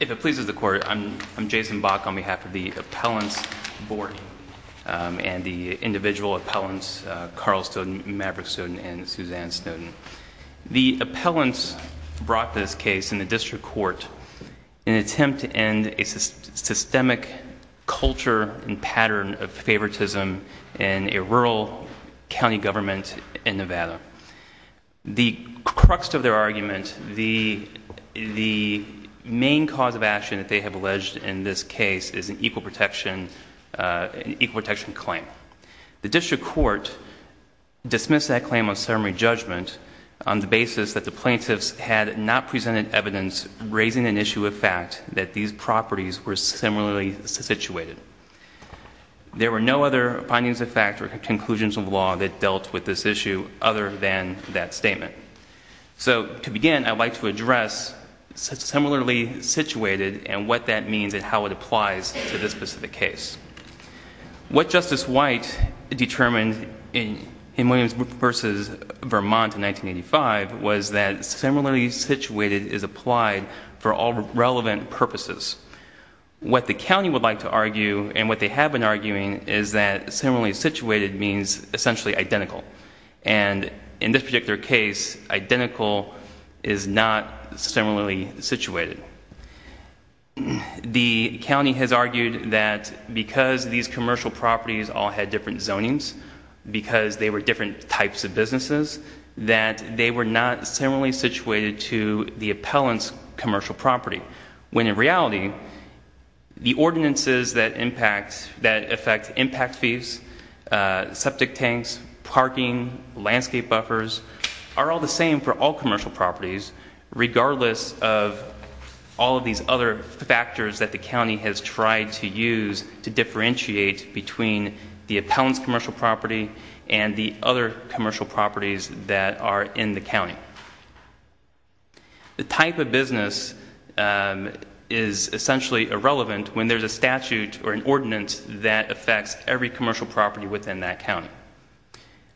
If it pleases the Court, I'm Jason Bach on behalf of the Appellants Board and the individual appellants Carl Snowden, Maverick Snowden, and Suzanne Snowden. The appellants brought this case in the District Court in an attempt to end a systemic culture and pattern of favoritism in a rural county government in Nevada. The crux of their argument, the main cause of action that they have alleged in this case is an equal protection claim. The District Court dismissed that claim of ceremony judgment on the basis that the plaintiffs had not presented evidence raising an issue of fact that these properties were similarly situated. There were no other findings of fact or conclusions of law that dealt with this issue other than that statement. So, to begin, I'd like to address similarly situated and what that means and how it applies to this specific case. What Justice White determined in Williams v. Vermont in 1985 was that similarly situated is applied for all relevant purposes. What the county would like to argue and what they have been arguing is that similarly situated means essentially identical. And in this particular case, identical is not similarly situated. The county has argued that because these commercial properties all had different zonings, because they were different types of businesses, that they were not similarly situated to the appellant's commercial property. When in reality, the ordinances that affect impact fees, septic tanks, parking, landscape buffers, are all the same for all commercial properties regardless of all of these other factors that the county has tried to use to differentiate between the appellant's commercial property and the other commercial properties that are in the county. The type of business is essentially irrelevant when there's a statute or an ordinance that affects every commercial property within that county.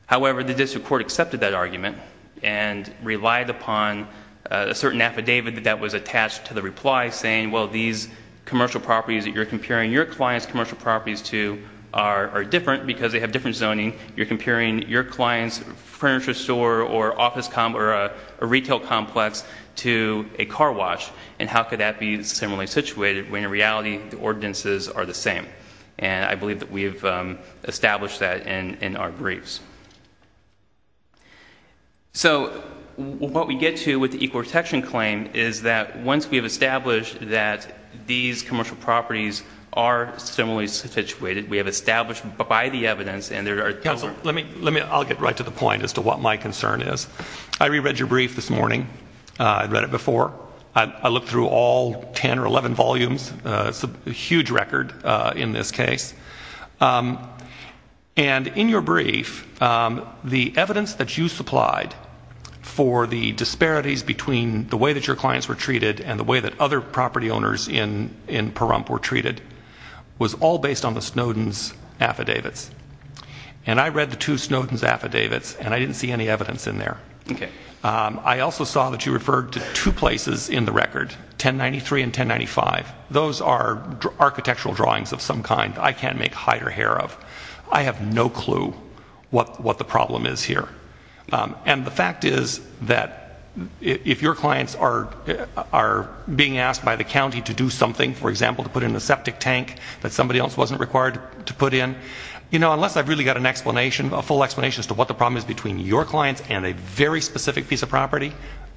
However, the district court accepted that argument and relied upon a certain affidavit that was attached to the reply saying, well, these commercial properties that you're comparing your client's commercial properties to are different because they have different zoning. You're comparing your client's furniture store or a retail complex to a car wash and how could that be similarly situated when in reality the ordinances are the same? And I believe that we have established that in our briefs. So what we get to with the equal protection claim is that once we have established that these commercial properties are similarly situated, we have established by the evidence and there are... Counselor, I'll get right to the point as to what my concern is. I reread your brief this morning. I read it before. I looked through all 10 or 11 volumes. It's a huge record in this case. And in your brief, the evidence that you supplied for the disparities between the way that your clients were treated and the way that other property owners in Pahrump were treated was all based on the Snowden's affidavits. And I read the two Snowden's affidavits and I didn't see any evidence in there. Okay. I also saw that you referred to two places in the record, 1093 and 1095. Those are architectural drawings of some kind I can't make hide or hair of. I have no clue what the problem is here. And the fact is that if your clients are being asked by the county to do something, for example, to put in a septic tank that somebody else wasn't required to put in, you know, unless I've really got an explanation, a full explanation as to what the problem is between your clients and a very specific piece of property,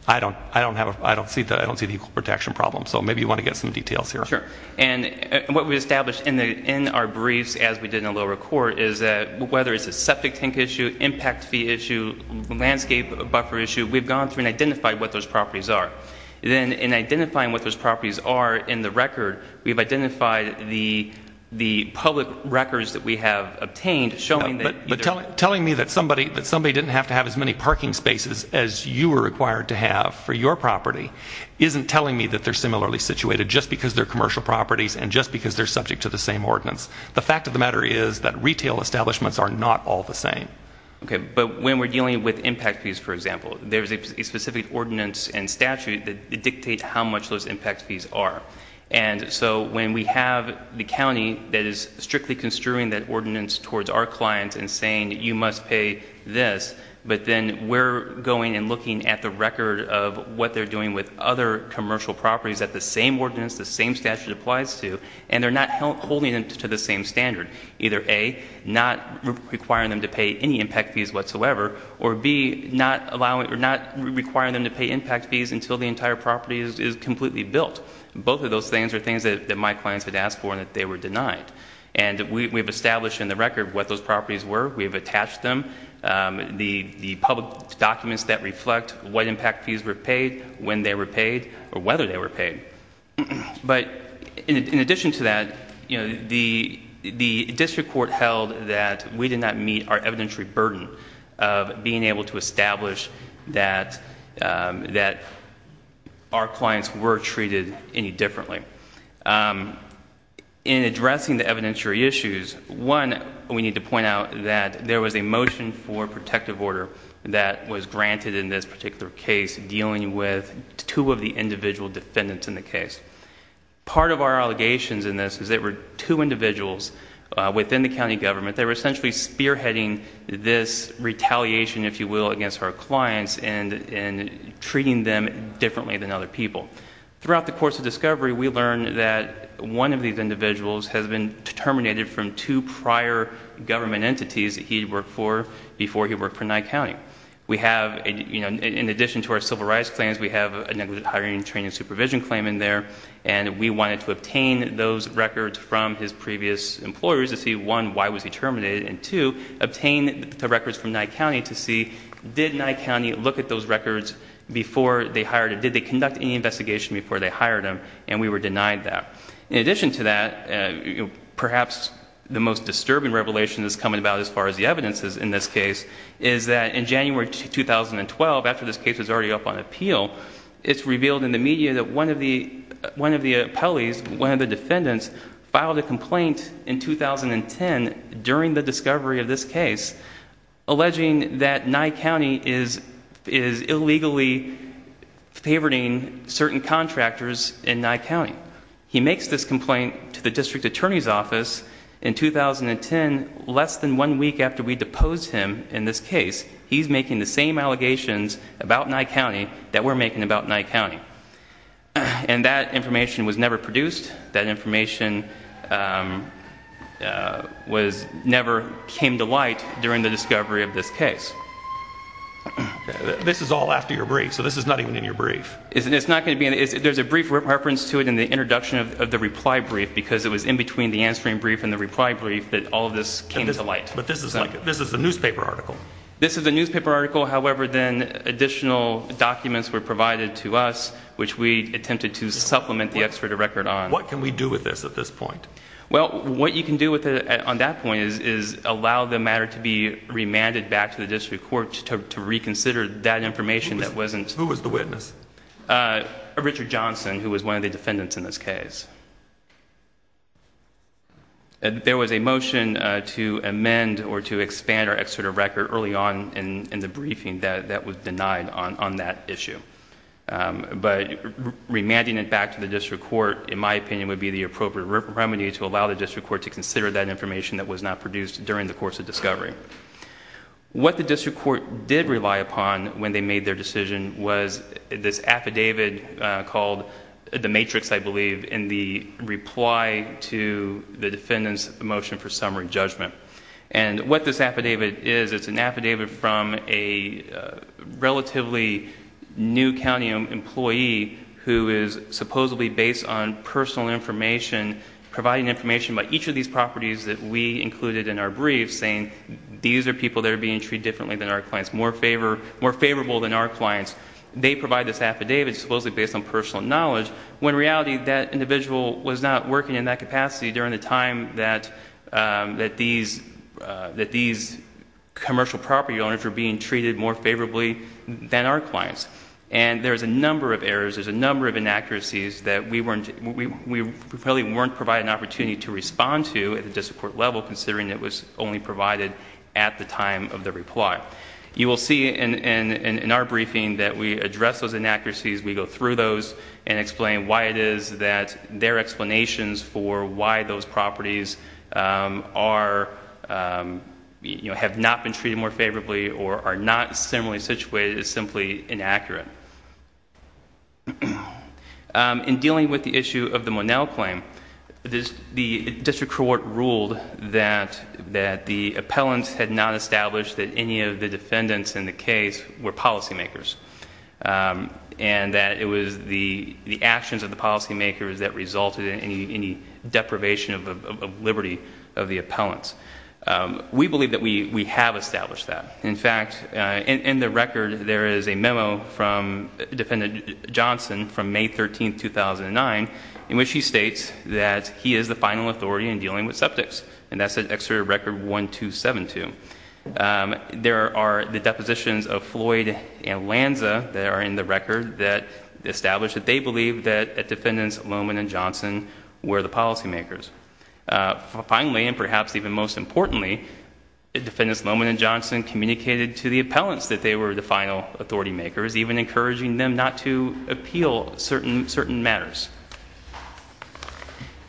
I don't see the equal protection problem. So maybe you want to get some details here. Sure. And what we established in our briefs as we did in the lower court is that whether it's a septic tank issue, impact fee issue, landscape buffer issue, we've gone through and identified what those properties are. Then in identifying what those properties are in the record, we've identified the public records that we have obtained showing that... But telling me that somebody didn't have to have as many parking spaces as you were required to have for your property isn't telling me that they're similarly situated just because they're commercial properties and just because they're subject to the same ordinance. The fact of the matter is that retail establishments are not all the same. Okay. But when we're dealing with impact fees, for example, there's a specific ordinance and statute that dictate how much those impact fees are. And so when we have the county that is strictly construing that ordinance towards our clients and saying that you must pay this, but then we're going and looking at the record of what they're doing with other commercial properties at the same ordinance, the same statute applies to, and they're not holding them to the same standard. Either A, not requiring them to pay any impact fees whatsoever, or B, not requiring them to pay impact fees until the entire property is completely built. Both of those things are things that my clients had asked for and that they were denied. And we have established in the record what those properties were. We have attached them. The public documents that reflect what impact fees were paid, when they were paid, or whether they were paid. Okay. But in addition to that, the district court held that we did not meet our evidentiary burden of being able to establish that our clients were treated any differently. In addressing the evidentiary issues, one, we need to point out that there was a motion for protective order that was granted in this particular case dealing with two of the individual defendants in the case. Part of our allegations in this is that there were two individuals within the county government that were essentially spearheading this retaliation, if you will, against our clients and treating them differently than other people. Throughout the course of discovery, we learned that one of these individuals has been terminated from two prior government entities that he worked for before he worked for Nye County. We have, in addition to our civil rights claims, we have a negligent hiring and training supervision claim in there. And we wanted to obtain those records from his previous employers to see, one, why was he terminated? And two, obtain the records from Nye County to see, did Nye County look at those records before they hired him? Did they conduct any investigation before they hired him? And we were denied that. In addition to that, perhaps the most disturbing revelation that's coming about as far as the evidence in this case is that in January 2012, after this case was already up on appeal, it's revealed in the media that one of the appellees, one of the defendants, filed a complaint in 2010 during the discovery of this case alleging that Nye County is illegally favoriting certain contractors in Nye County. He makes this complaint to the district attorney's office in 2010, less than one week after we deposed him in this case, he's making the same allegations about Nye County that we're making about Nye County. And that information was never produced. That information never came to light during the discovery of this case. This is all after your brief, so this is not even in your brief. There's a brief reference to it in the introduction of the reply brief because it was in between the answering brief and the reply brief that all of this came to light. But this is a newspaper article. This is a newspaper article, however, then additional documents were provided to us, which we attempted to supplement the extradited record on. What can we do with this at this point? Well, what you can do on that point is allow the matter to be remanded back to the district court to reconsider that information that wasn't... Who was the witness? Richard Johnson, who was one of the defendants in this case. There was a motion to amend or to expand our extradited record early on in the briefing that was denied on that issue. But remanding it back to the district court, in my opinion, would be the appropriate remedy to allow the district court to consider that information that was not produced during the course of discovery. What the district court did rely upon when they made their decision was this affidavit called the Matrix, I believe, in the reply to the defendant's motion for summary judgment. And what this affidavit is, it's an affidavit from a relatively new county employee who is supposedly based on personal information, providing information about each of these properties that we included in our brief, saying these are people that are being treated differently than our clients, more favourable than our clients. They provide this affidavit supposedly based on personal knowledge, when in reality that individual was not working in that capacity during the time that these commercial property owners were being treated more favourably than our clients. And there's a number of errors, there's a number of inaccuracies that we probably weren't provided an opportunity to respond to at the district court level, considering it was only provided at the time of the reply. You will see in our briefing that we address those inaccuracies, we go through those and explain why it is that their explanations for why those properties have not been treated more favourably or are not similarly situated is simply inaccurate. In dealing with the issue of the Monell claim, the district court ruled that the appellants had not established that any of the defendants in the case were policy makers. And that it was the actions of the policy makers that resulted in any deprivation of liberty of the appellants. We believe that we have established that. In fact, in the record there is a memo from Defendant Johnson from May 13, 2009, in which he states that he is the final authority in dealing with subjects, and that's an exterior record 1272. There are the depositions of Floyd and Lanza that are in the record that establish that they believe that Defendants Loman and Johnson were the policy makers. Finally, and perhaps even most importantly, Defendants Loman and Johnson communicated to the appellants that they were the final authority makers, even encouraging them not to appeal certain matters.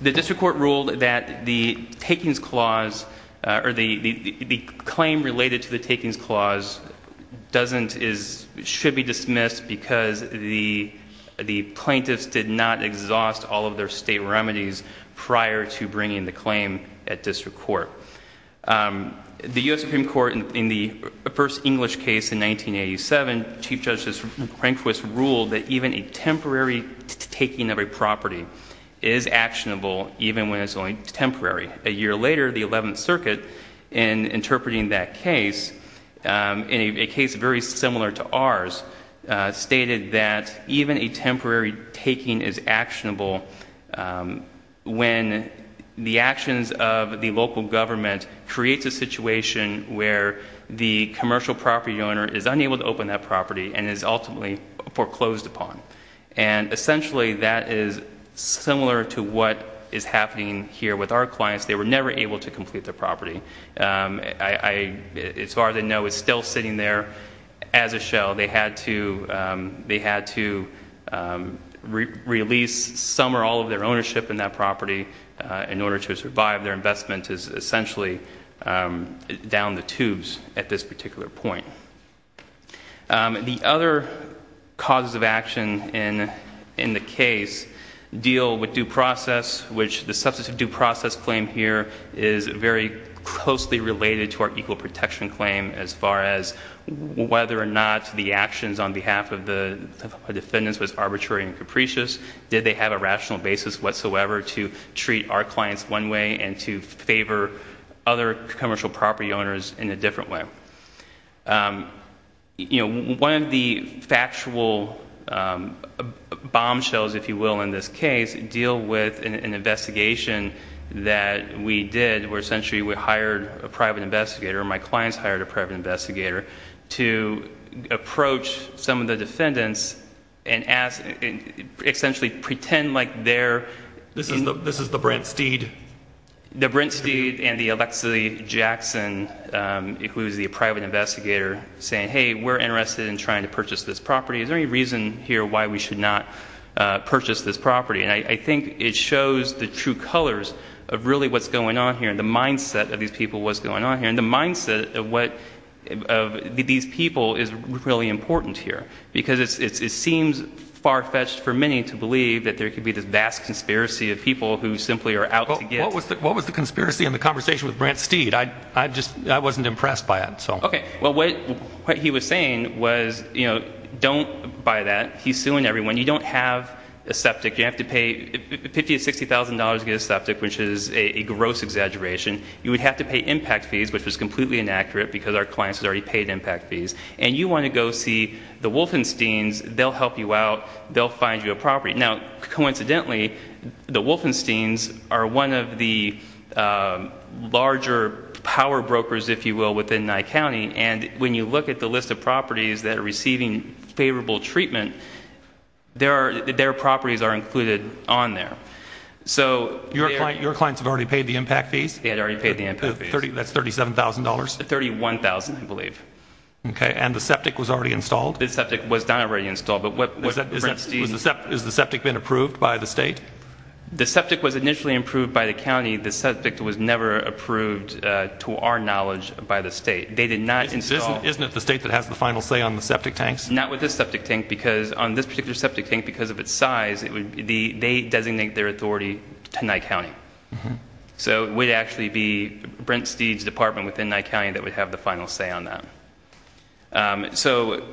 The district court ruled that the takings clause, or the claim related to the takings clause, should be dismissed because the plaintiffs did not exhaust all of their state remedies prior to bringing the claim at district court. The U.S. Supreme Court, in the first English case in 1987, Chief Justice Rehnquist ruled that even a temporary taking of a property is actionable even when it's only temporary. A year later, the 11th Circuit, in interpreting that case, in a case very similar to ours, stated that even a temporary taking is actionable when the actions of the local government creates a situation where the commercial property owner is unable to open that property and is ultimately foreclosed upon. And essentially, that is similar to what is happening here with our clients. They were never able to complete their property. As far as I know, it's still sitting there as a shell. They had to release some or all of their ownership in that property in order to survive. Their investment is essentially down the tubes at this particular point. The other causes of action in the case deal with due process, which the substantive due process claim here is very closely related to our equal protection claim as far as whether or not the actions on behalf of the defendants was arbitrary and capricious. Did they have a rational basis whatsoever to treat our clients one way and to favor other commercial property owners in a different way? You know, one of the factual bombshells, if you will, in this case, deal with an investigation that we did where essentially we hired a private investigator. My clients hired a private investigator to approach some of the defendants and essentially pretend like they're... This is the Brent Steed? The Brent Steed and the Alexei Jackson, who is the private investigator, saying, hey, we're interested in trying to purchase this property. Is there any reason here why we should not purchase this property? And I think it shows the true colours of really what's going on here and the mindset of these people, what's going on here, and the mindset of these people is really important here, because it seems far-fetched for many to believe that there could be this vast conspiracy of people who simply are out to get... I wasn't impressed by it, so... OK, well, what he was saying was, you know, don't buy that. He's suing everyone. You don't have a septic. You have to pay $50,000 to $60,000 to get a septic, which is a gross exaggeration. You would have to pay impact fees, which was completely inaccurate because our clients had already paid impact fees. And you want to go see the Wolfensteins. They'll help you out. They'll find you a property. Now, coincidentally, the Wolfensteins are one of the larger power brokers, if you will, within Nye County, and when you look at the list of properties that are receiving favourable treatment, their properties are included on there. So... Your clients have already paid the impact fees? They had already paid the impact fees. That's $37,000? $31,000, I believe. OK, and the septic was already installed? The septic was not already installed. Has the septic been approved by the state? The septic was initially approved by the county. The septic was never approved, to our knowledge, by the state. They did not install... Isn't it the state that has the final say on the septic tanks? Not with this septic tank. Because on this particular septic tank, because of its size, they designate their authority to Nye County. So it would actually be Brent Steed's department within Nye County that would have the final say on that. So,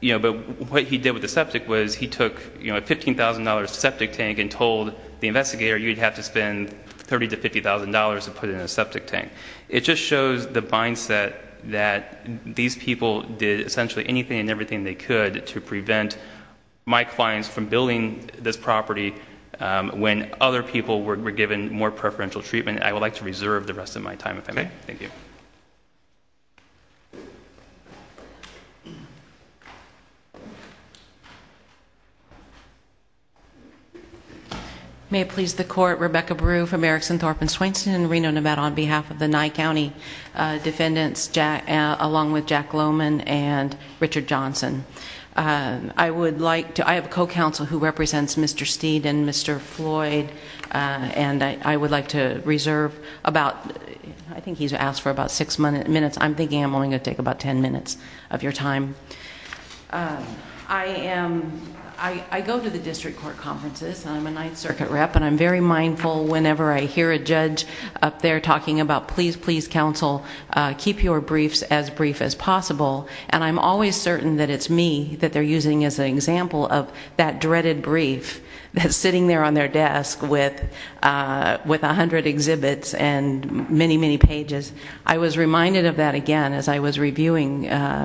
you know, but what he did with the septic was he took a $15,000 septic tank and told the investigator you'd have to spend $30,000 to $50,000 to put in a septic tank. It just shows the mindset that these people did essentially anything and everything they could to prevent my clients from building this property when other people were given more preferential treatment. I would like to reserve the rest of my time if I may. OK, thank you. May it please the court. Rebecca Brew from Erickson, Thorpe & Swainston in Reno, Nevada on behalf of the Nye County defendants, along with Jack Lowman and Richard Johnson. I would like to... I have a co-counsel who represents Mr. Steed and Mr. Floyd and I would like to reserve about... I think he's asked for about 6 minutes. I'm thinking I'm only going to take about 10 minutes of your time. I am... I go to the district court conferences and I'm a Ninth Circuit rep and I'm very mindful whenever I hear a judge up there talking about please, please, counsel, keep your briefs as brief as possible and I'm always certain that it's me that they're using as an example of that dreaded brief that's sitting there on their desk with 100 exhibits and many, many pages. I was reminded of that again as I was reviewing,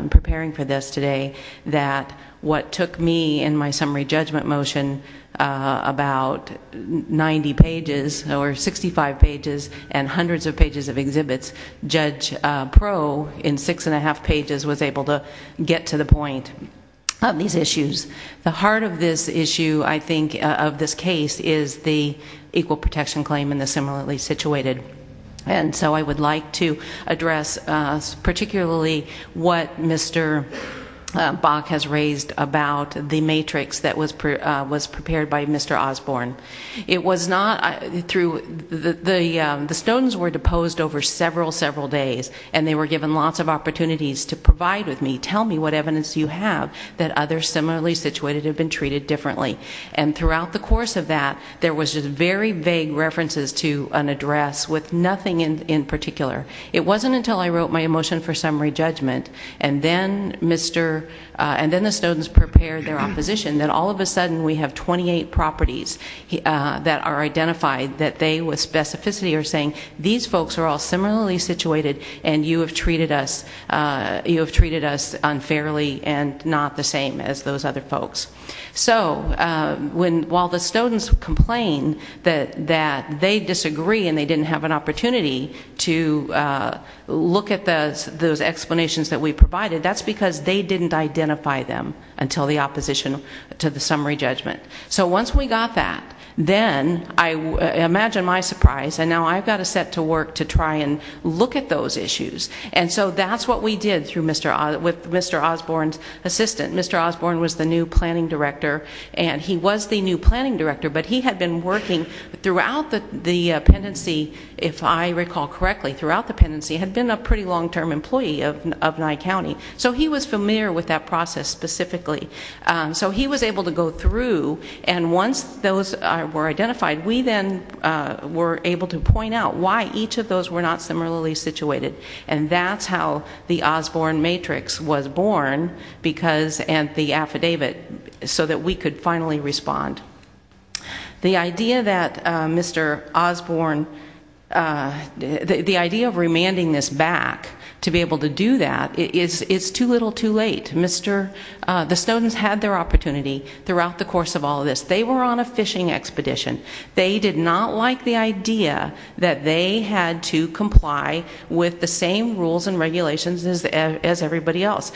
preparing for this today that what took me in my summary judgment motion about 90 pages or 65 pages and hundreds of pages of exhibits, Judge Proe, in 6.5 pages, was able to get to the point on these issues. The heart of this issue, I think, of this case, is the equal protection claim and the similarly situated. And so I would like to address particularly what Mr. Bach has raised about the matrix that was prepared by Mr. Osborne. It was not through... The stones were deposed over several, several days and they were given lots of opportunities to provide with me, tell me what evidence you have that others similarly situated have been treated differently. And throughout the course of that, there was just very vague references to an address with nothing in particular. It wasn't until I wrote my motion for summary judgment and then Mr... and then the stones prepared their opposition that all of a sudden we have 28 properties that are identified that they with specificity are saying these folks are all similarly situated and you have treated us... you have treated us unfairly and not the same as those other folks. So while the stones complain that they disagree and they didn't have an opportunity to look at those explanations that we provided, that's because they didn't identify them until the opposition to the summary judgment. So once we got that, then I...imagine my surprise and now I've got to set to work to try and look at those issues. And so that's what we did with Mr. Osborne's assistant. Mr. Osborne was the new planning director and he was the new planning director but he had been working throughout the...the appendency, if I recall correctly, throughout the appendency, had been a pretty long-term employee of Nye County. So he was familiar with that process specifically. So he was able to go through and once those were identified we then were able to point out why each of those were not similarly situated and that's how the Osborne matrix was born because...and the affidavit so that we could finally respond. The idea that Mr. Osborne... the idea of remanding this back to be able to do that is too little too late. Mr....the Snowden's had their opportunity throughout the course of all of this. They were on a fishing expedition. They did not like the idea that they had to comply with the same rules and regulations as everybody else.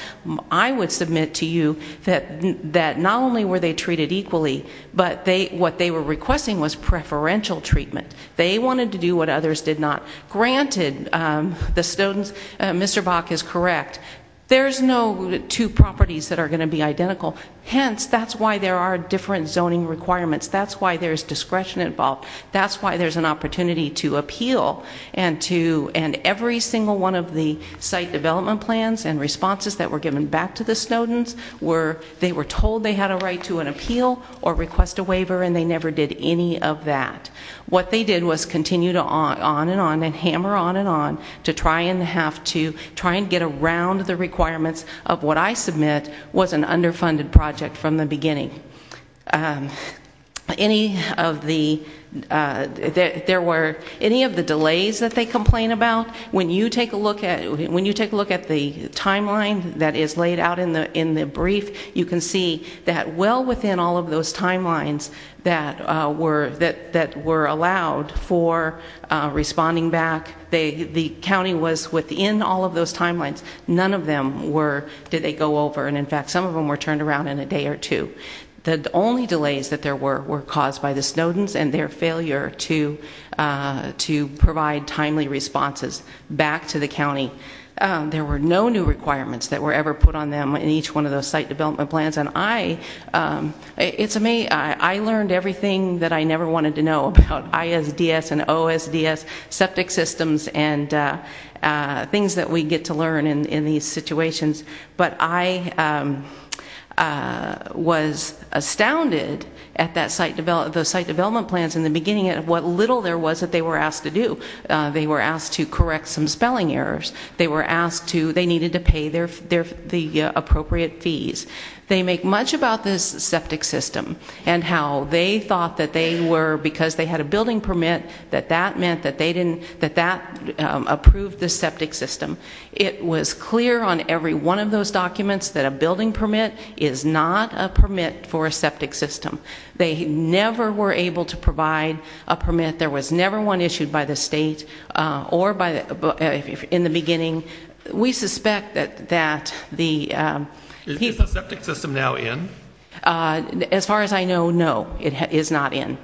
I would submit to you that not only were they treated equally but they... what they were requesting was preferential treatment. They wanted to do what others did not. Granted, the Snowden's Mr. Bach is correct. There's no two properties that are going to be identical. Hence, that's why there are different zoning requirements. That's why there's discretion involved. That's why there's an opportunity to appeal and to... and every single one of the site development plans and responses that were given back to the Snowden's were...they were told they had a right to an appeal or request a waiver and they never did any of that. What they did was continue on and on and hammer on and on to try and have to...try and get around the requirements of what I submit was an underfunded project from the beginning. Any of the... there were any of the delays that they complained about when you take a look at the timeline that is laid out in the brief you can see that well within all of those timelines that were allowed for responding back the county was within all of those timelines none of them were...did they go over and in fact some of them were turned around in a day or two. The only delays that there were were caused by the Snowden's and their failure to provide timely responses back to the county. There were no new requirements that were ever put on them in each one of those site development plans and I it's amazing I learned everything that I never wanted to know about ISDS and OSDS septic systems and things that we get to learn in these situations but I was astounded at that site development plans in the beginning of what little there was that they were asked to do. They were asked to correct some spelling errors. They were asked to...they needed to pay the appropriate fees. They make much about this septic system and how they thought that they were because they had a building permit that that meant that they didn't...that that approved the septic system. It was clear on every one of those documents that a building permit is not a permit for a septic system. They never were able to provide a permit. There was never one issued by the state or by...in the beginning we suspect that the...is the septic system now in? As far as I know, no. It is not in.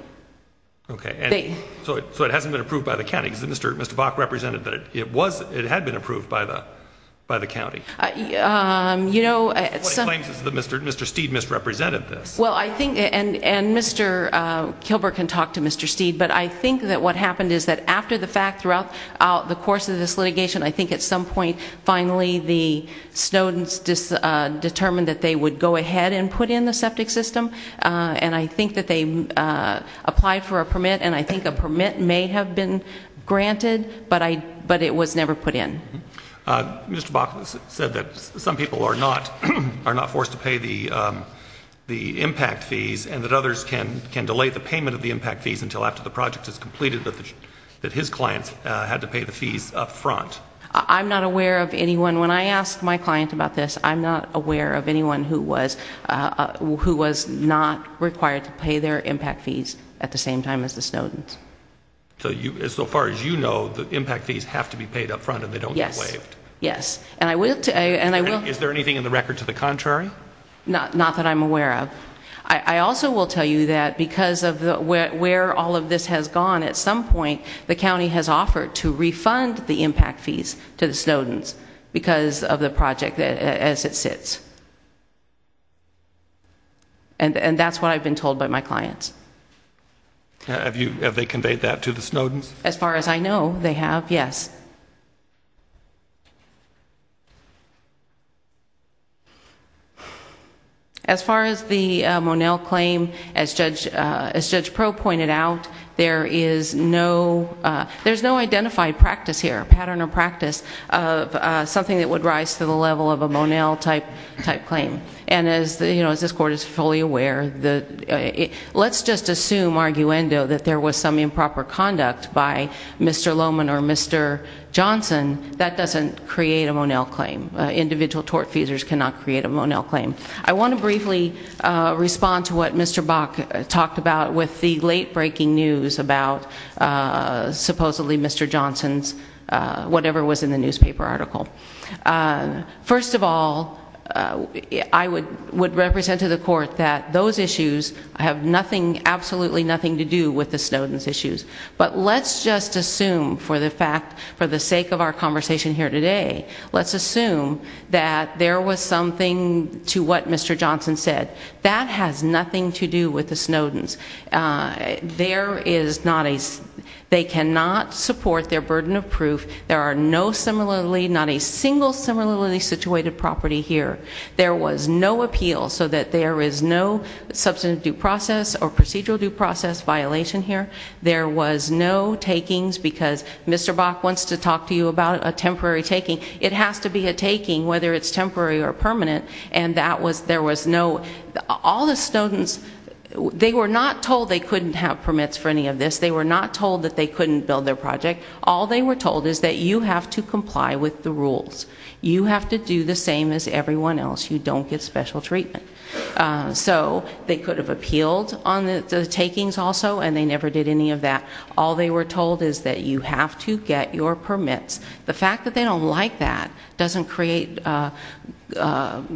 Okay. So it hasn't been approved by the county because Mr. Bach represented that it was it had been approved by the county. You know Mr. Steed misrepresented this. Well I think and Mr. Kilburg can talk to Mr. Steed but I think that what happened is that after the fact throughout the course of this litigation I think at some point finally the students determined that they would go ahead and put in the septic system and I think that they applied for a permit and I think a permit may have been granted but it was never put in. Mr. Bach said that some people are not forced to pay the impact fees and that others can delay the payment of the impact fees until after the project is completed that his clients had to pay the fees up front. I'm not aware of anyone, when I ask my client about this, I'm not aware of anyone who was not required to pay their impact fees at the same time as the students. So far as you know, the impact fees have to be paid up front and they don't get waived. Yes. And I will... Is there anything in the record to the contrary? Not that I'm aware of. I also will tell you that because of where all of this has gone, at some point, the county has offered to refund the impact fees to the Snowdens because of the project as it sits. And that's what I've been told by my clients. Have they conveyed that to the Snowdens? As far as I know, they have, yes. As far as the Monell claim, as Judge Pro pointed out, there is no identified practice here, pattern or practice of something that would rise to the level of a Monell type claim. And as this court is fully aware, let's just assume, arguendo, that there was some improper conduct by Mr. Lohman or Mr. Johnson, that doesn't create a Monell claim. Individual tort fees cannot create a Monell claim. I want to briefly respond to what Mr. Bach talked about with the late breaking news about supposedly Mr. Johnson's whatever was in the newspaper article. First of all, I would represent to the court that those issues have nothing absolutely nothing to do with the Snowdens issues. But let's just assume for the fact, for the sake of our conversation here today, let's assume that there was something to what Mr. Johnson said. That has nothing to do with the Snowdens. There is not a they cannot support their burden of proof. There are no similarly not a single similarly situated property here. There was no appeal so that there is no substantive due process or procedural due process violation here. There was no takings because Mr. Bach wants to talk to you about a temporary taking. It has to be a taking whether it is temporary or permanent. All the Snowdens they were not told they couldn't have permits for any of this. They were not told they couldn't build their project. All they were told is that you have to comply with the rules. You have to do the same as everyone else. You don't get special treatment. They could have appealed on the takings also and they never did any of that. All they were told is that you have to get your permits. The fact that they don't like that doesn't create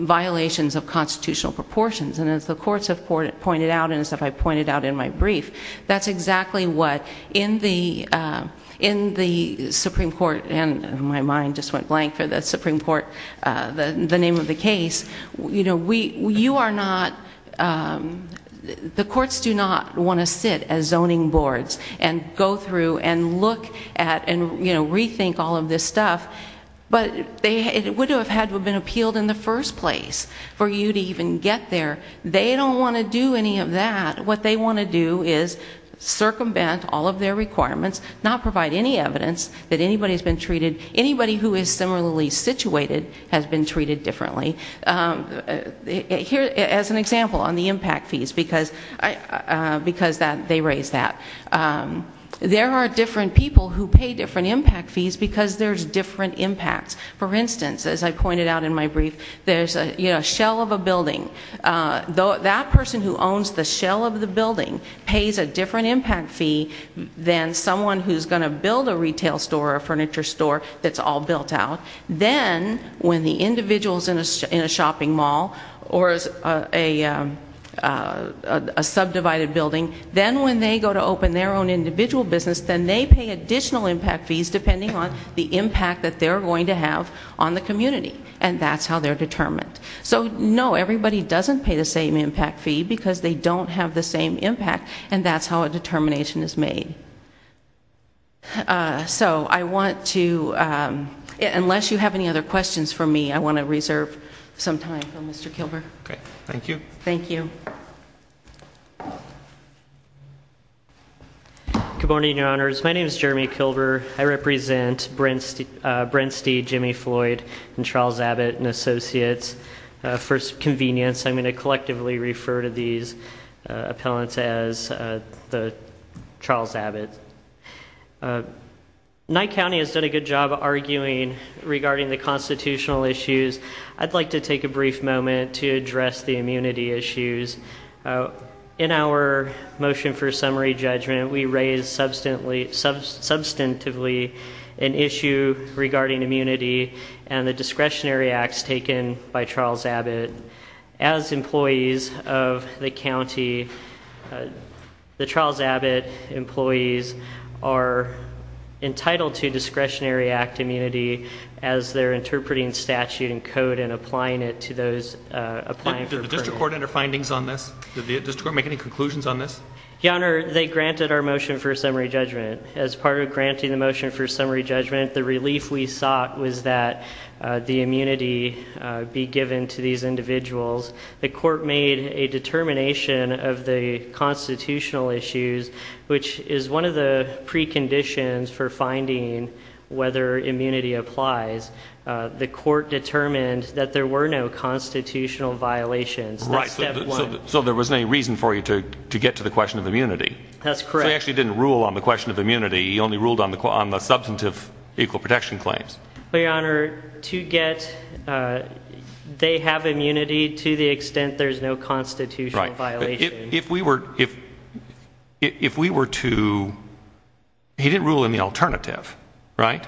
violations of constitutional proportions and as the courts have pointed out and as I pointed out in my brief that's exactly what in the Supreme Court and my mind just went blank for the Supreme Court the name of the case you are not the courts do not want to sit as zoning boards and go through and look at and rethink all of this stuff but it would have had to have been appealed in the first place for you to even get there they don't want to do any of that what they want to do is circumvent all of their requirements not provide any evidence that anybody has been treated. Anybody who is similarly situated has been treated differently here as an example on the impact fees because they raise that there are different people who pay different impact fees because there's different impacts. For instance as I pointed out in my brief there's a shell of a building that person who owns the shell of the building pays a different impact fee than someone who is going to build a retail store or a furniture store that's all built out. Then when the individual is in a shopping mall or a subdivided building then when they go to open their own individual business then they pay additional impact fees depending on the impact that they're going to have on the community and that's how they're determined. So no, everybody doesn't pay the same impact fee because they don't have the same impact and that's how a determination is made. So I want to unless you have any other questions for me I want to reserve some time for Mr. Kilbur. Thank you. Good morning your honors. My name is Jeremy Kilbur. I represent Brent Steed, Jimmy Floyd and Charles Abbott and Associates. For convenience I'm going to collectively refer to these appellants as Charles Abbott. Knight County has done a good job arguing regarding the constitutional issues. I'd like to take a brief moment to address the immunity issues. In our motion for summary judgment we raised substantively an issue regarding immunity and the discretionary acts taken by Charles Abbott. As employees of the county the Charles Abbott employees are entitled to discretionary act immunity as they're interpreting statute and code and applying it to those Did the district court enter findings on this? Did the district court make any conclusions on this? Your honor, they granted our motion for summary judgment. As part of granting the motion for summary judgment the relief we sought was that the immunity be given to these individuals. The court made a determination of the constitutional issues which is one of the preconditions for finding whether immunity applies. The court determined that there were no constitutional violations. So there was no reason for you to get to the question of immunity. That's correct. He actually didn't rule on the question of immunity, he only ruled on the substantive equal protection claims. Your honor, to get they have immunity to the extent there's no constitutional violation. If we were to he didn't rule in the alternative, right?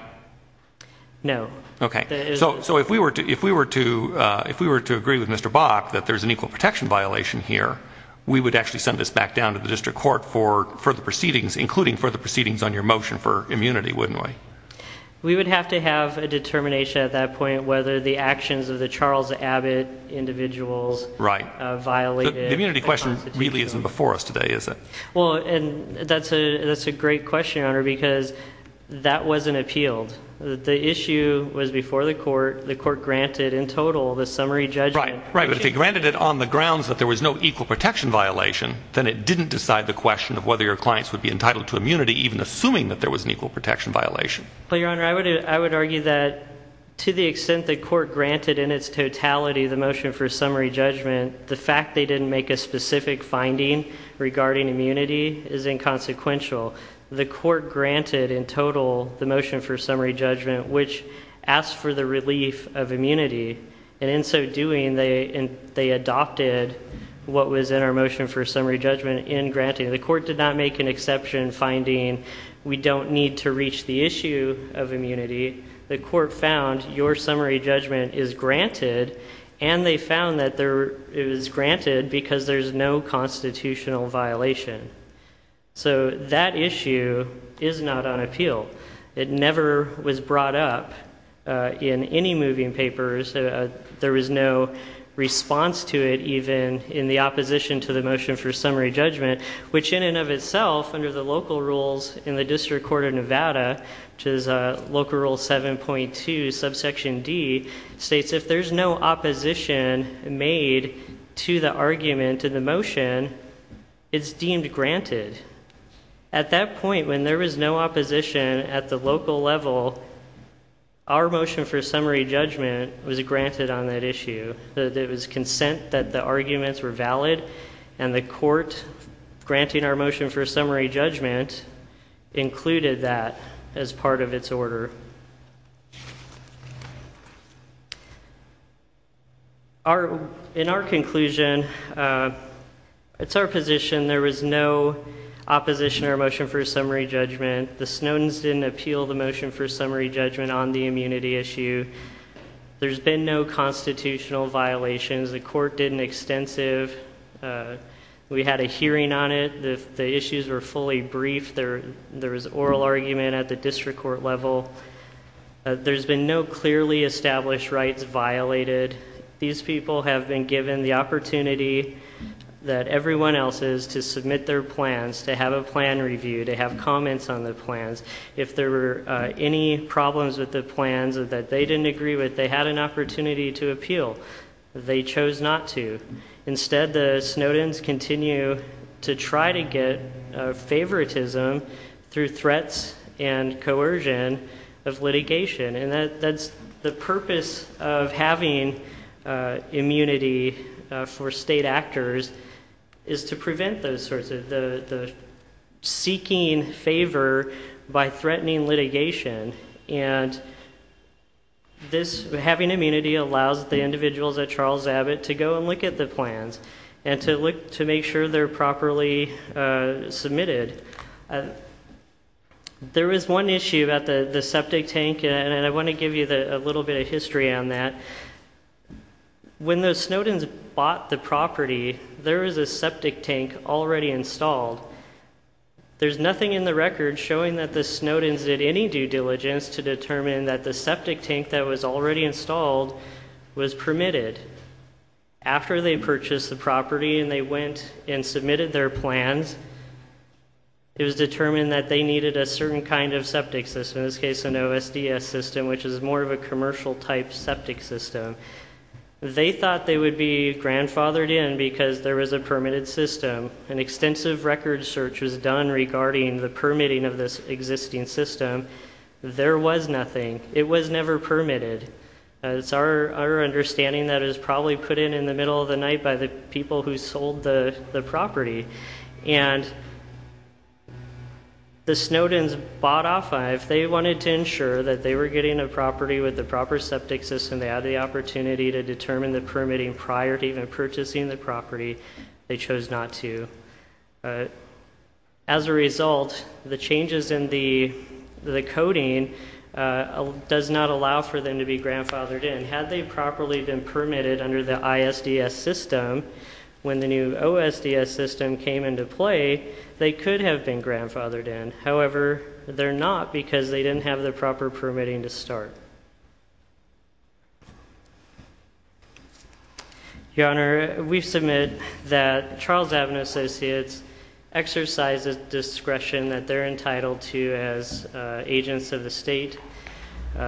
No. So if we were to agree with Mr. Bach that there's an equal protection violation here we would actually send this back down to the district court for further proceedings including further proceedings on your motion for immunity, wouldn't we? We would have to have a determination at that point whether the actions of the Charles Abbott individuals violated the constitution. The immunity question really isn't before us today, is it? That's a great question your honor because that wasn't appealed. The issue was before the court, the court granted in total the summary judgment. Right, right. But if they granted it on the grounds that there was no equal protection violation, then it didn't decide the question of whether your clients would be entitled to immunity even assuming that there was an equal protection violation. But your honor, I would argue that to the extent the court granted in its totality the motion for summary judgment the fact they didn't make a specific finding regarding immunity is inconsequential. The court granted in total the motion for summary judgment which asked for the relief of immunity and in so doing they adopted what was in our motion for summary judgment in granting the court did not make an exception finding we don't need to reach the issue of immunity the court found your summary judgment is granted and they found that it was granted because there's no constitutional violation. So that issue is not on appeal. It never was brought up in any moving papers there was no response to it even in the opposition to the motion for summary judgment which in and of itself under the local rules in the district court of Nevada, which is local rule 7.2 subsection D, states if there's no opposition made to the argument in the motion it's deemed granted at that point when there was no opposition at the local level our motion for summary judgment was granted on that issue. It was consent that the arguments were valid and the court granting our motion for summary judgment included that as part of its order. In our conclusion it's our position there was no opposition to our motion for summary judgment the Snowden's didn't appeal the motion for summary judgment on the immunity issue there's been no constitutional violations the court did an extensive we had a hearing on it the issues were fully briefed there was oral argument at the district court level there's been no clearly established rights violated these people have been given the opportunity that everyone else is to submit their plans to have a plan review to have comments on the plans if there were any problems with the plans that they didn't agree with they had an opportunity to appeal they chose not to instead the Snowden's continue to try to get favoritism through threats and coercion of litigation and that's the purpose of having immunity for state actors is to prevent those sorts of seeking favor by threatening litigation and this having immunity allows the individuals at Charles Abbott to go and look at the plans and to look to make sure they're properly submitted there is one issue about the septic tank and I want to give you a little bit of history on that when the Snowden's bought the property there was a septic tank already installed there's nothing in the record showing that the Snowden's did any due diligence to determine that the septic tank that was already installed was permitted after they purchased the property and they went and submitted their plans it was determined that they needed a certain kind of septic system, in this case an OSDS system which is more of a commercial type septic system they thought they would be grandfathered in because there was a permitted system an extensive record search was done regarding the permitting of this existing system there was nothing, it was never permitted it's our understanding that it was probably put in in the middle of the night by the people who sold the property and the Snowden's bought off of, they wanted to ensure that they were getting a property with the proper septic system, they had the opportunity to determine the permitting prior to even purchasing the property they chose not to as a result the changes in the coding does not allow for them to be grandfathered in had they properly been permitted under the ISDS system when the new OSDS system came into play they could have been grandfathered in however, they're not because they didn't have the proper permitting to start your honor, we submit that Charles Avenue Associates exercises discretion that they're entitled to as agents of the state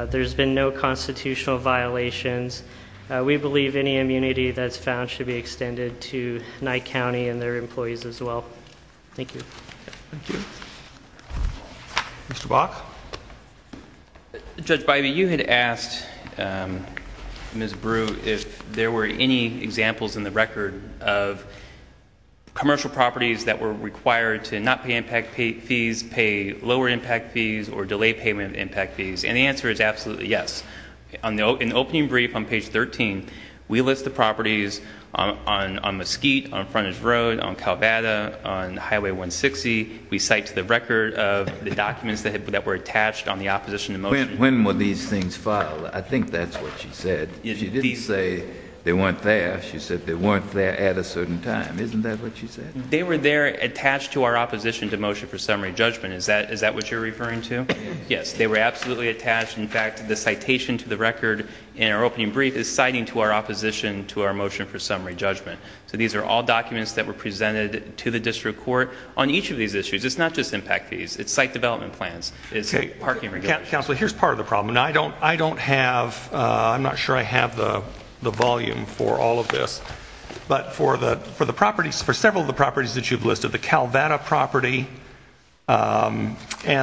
there's been no constitutional violations, we believe any immunity that's found should be extended to Nye County and their employees as well thank you Mr. Bach Judge Bybee, you had asked Ms. Brew if there were any examples in the record of commercial properties that were required to not pay impact fees pay lower impact fees or delay payment of impact fees and the answer is absolutely yes in the opening brief on page 13 we list the properties on Mesquite, on Frontage Road on Calvada, on Highway 160, we cite to the record of the documents that were attached on the opposition to motion when were these things filed? I think that's what she said she didn't say they weren't there, she said they weren't there at a certain time, isn't that what she said? they were there attached to our opposition to motion for summary judgment, is that what you're referring to? Yes, they were absolutely attached, in fact the citation to the record in our opening brief is citing to our opposition to our motion for summary judgment so these are all documents that were presented to the district court on each of these issues, it's not just impact fees it's site development plans, it's parking regulations. Counselor, here's part of the problem I don't have, I'm not sure I have the volume for all of this, but for the properties, for several of the properties that you've listed, the Calvada property and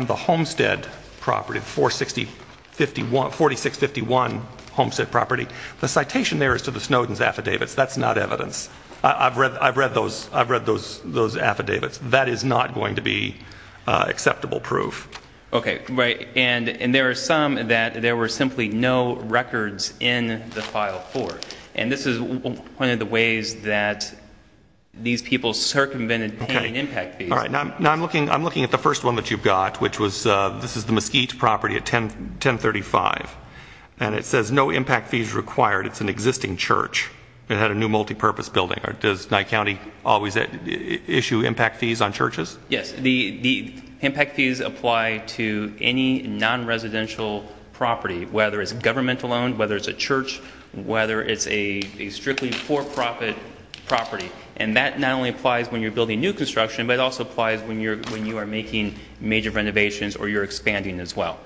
the Homestead property, 460 4651 Homestead property, the citation there is to the Snowden's affidavits, that's not evidence I've read those affidavits, that is not going to be acceptable proof Ok, right, and there are some that there were simply no records in the file for, and this is one of the ways that these people circumvented pain and impact fees Ok, now I'm looking at the first one that you've got, which was, this is the Mesquite property at 1035 and it says no impact fees required, it's an existing church it had a new multipurpose building does Nye County always issue impact fees on churches? Yes the impact fees apply to any non-residential property, whether it's government owned, whether it's a church, whether it's a strictly for-profit property, and that not only applies when you're building new construction but it also applies when you are making major renovations or you're expanding as well.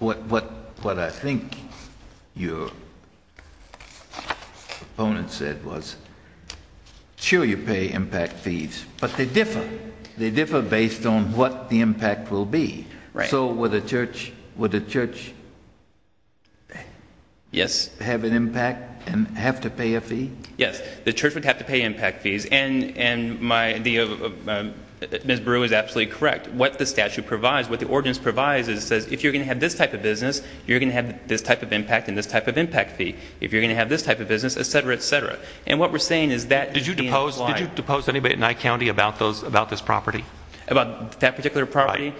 What I think your opponent said was sure you pay impact fees but they differ, they differ based on what the impact will be so would a church would a church have an impact and have to pay a fee? Yes the church would have to pay impact fees and Ms. Brew is absolutely correct what the statute provides, what the ordinance provides is it says if you're going to have this type of business you're going to have this type of impact and this type of impact fee, if you're going to have this type of business etc. etc. and what we're saying is that does not apply. Did you depose anybody at Nye County about this property? About that particular property?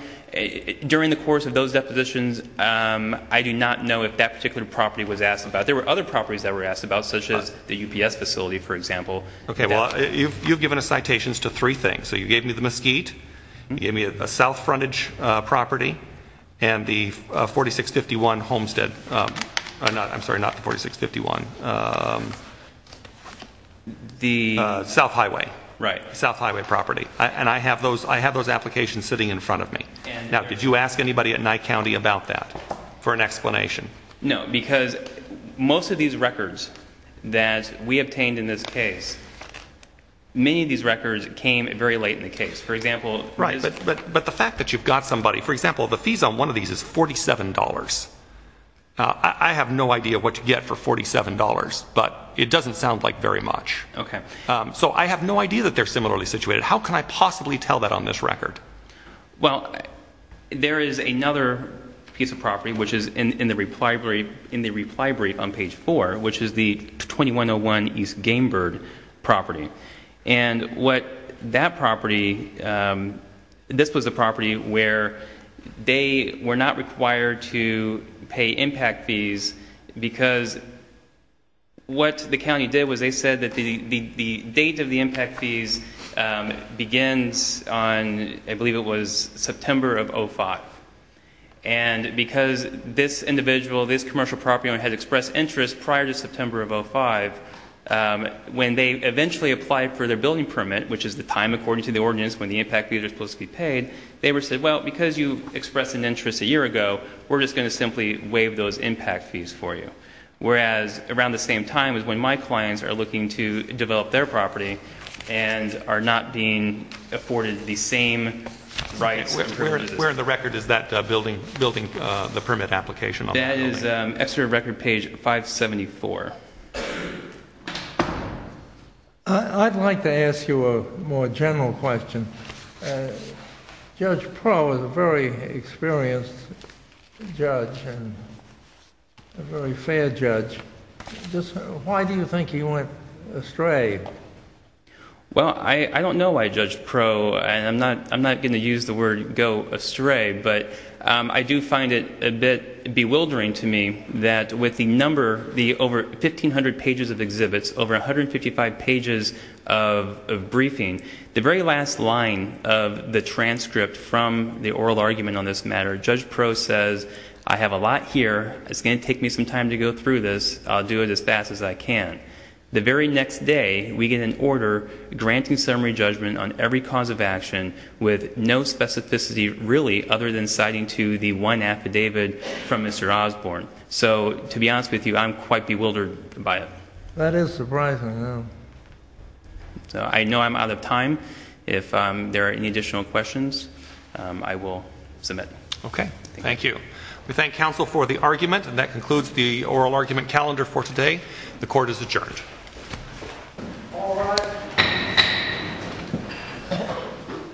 During the course of those depositions I do not know if that particular property was asked about, there were other properties that were asked about such as the UPS facility for example. Okay well you've given us citations to three things you gave me the Mesquite, you gave me a South Frontage property and the 4651 Homestead I'm sorry not the 4651 the South Highway property and I have those applications sitting in front of me now did you ask anybody at Nye County about that for an explanation? No because most of these properties were obtained in this case many of these records came very late in the case, for example but the fact that you've got somebody, for example the fees on one of these is $47 I have no idea what you get for $47 but it doesn't sound like very much so I have no idea that they're similarly situated, how can I possibly tell that on this record? Well there is another piece of property which is in the reply brief on page 4 which is the 2101 East Gamebird property and what that property this was a property where they were not required to pay impact fees because what the county did was they said that the date of the impact fees begins on I believe it was September of 05 and because this individual, this commercial property owner had expressed interest prior to September of 05 when they eventually applied for their building permit which is the time according to the ordinance when the impact fee is supposed to be paid they said well because you expressed an interest a year ago we're just going to simply waive those impact fees for you whereas around the same time is when my clients are looking to develop their property and are not being afforded the same rights and privileges. Where in the record is that building building the permit application? That is extra record page 574. I'd like to ask you a more general question Judge Pro is a very experienced judge and a very fair judge why do you think he went astray? Well I don't know why Judge Pro and I'm not going to use the word go astray but I do find it a bit bewildering to me that with the number over 1500 pages of exhibits over 155 pages of briefing the very last line of the transcript from the oral argument on this matter Judge Pro says I have a lot here it's going to take me some time to go through this I'll do it as fast as I can. The very next day we get an order granting summary judgment on every cause of action with no specificity really other than citing to the one affidavit from Mr. Osborne so to be honest with you I'm quite bewildered by it. That is surprising I know I'm out of time if there are any additional questions I will submit okay thank you. We thank counsel for the argument and that concludes the oral argument calendar for today the court is adjourned the court is adjourned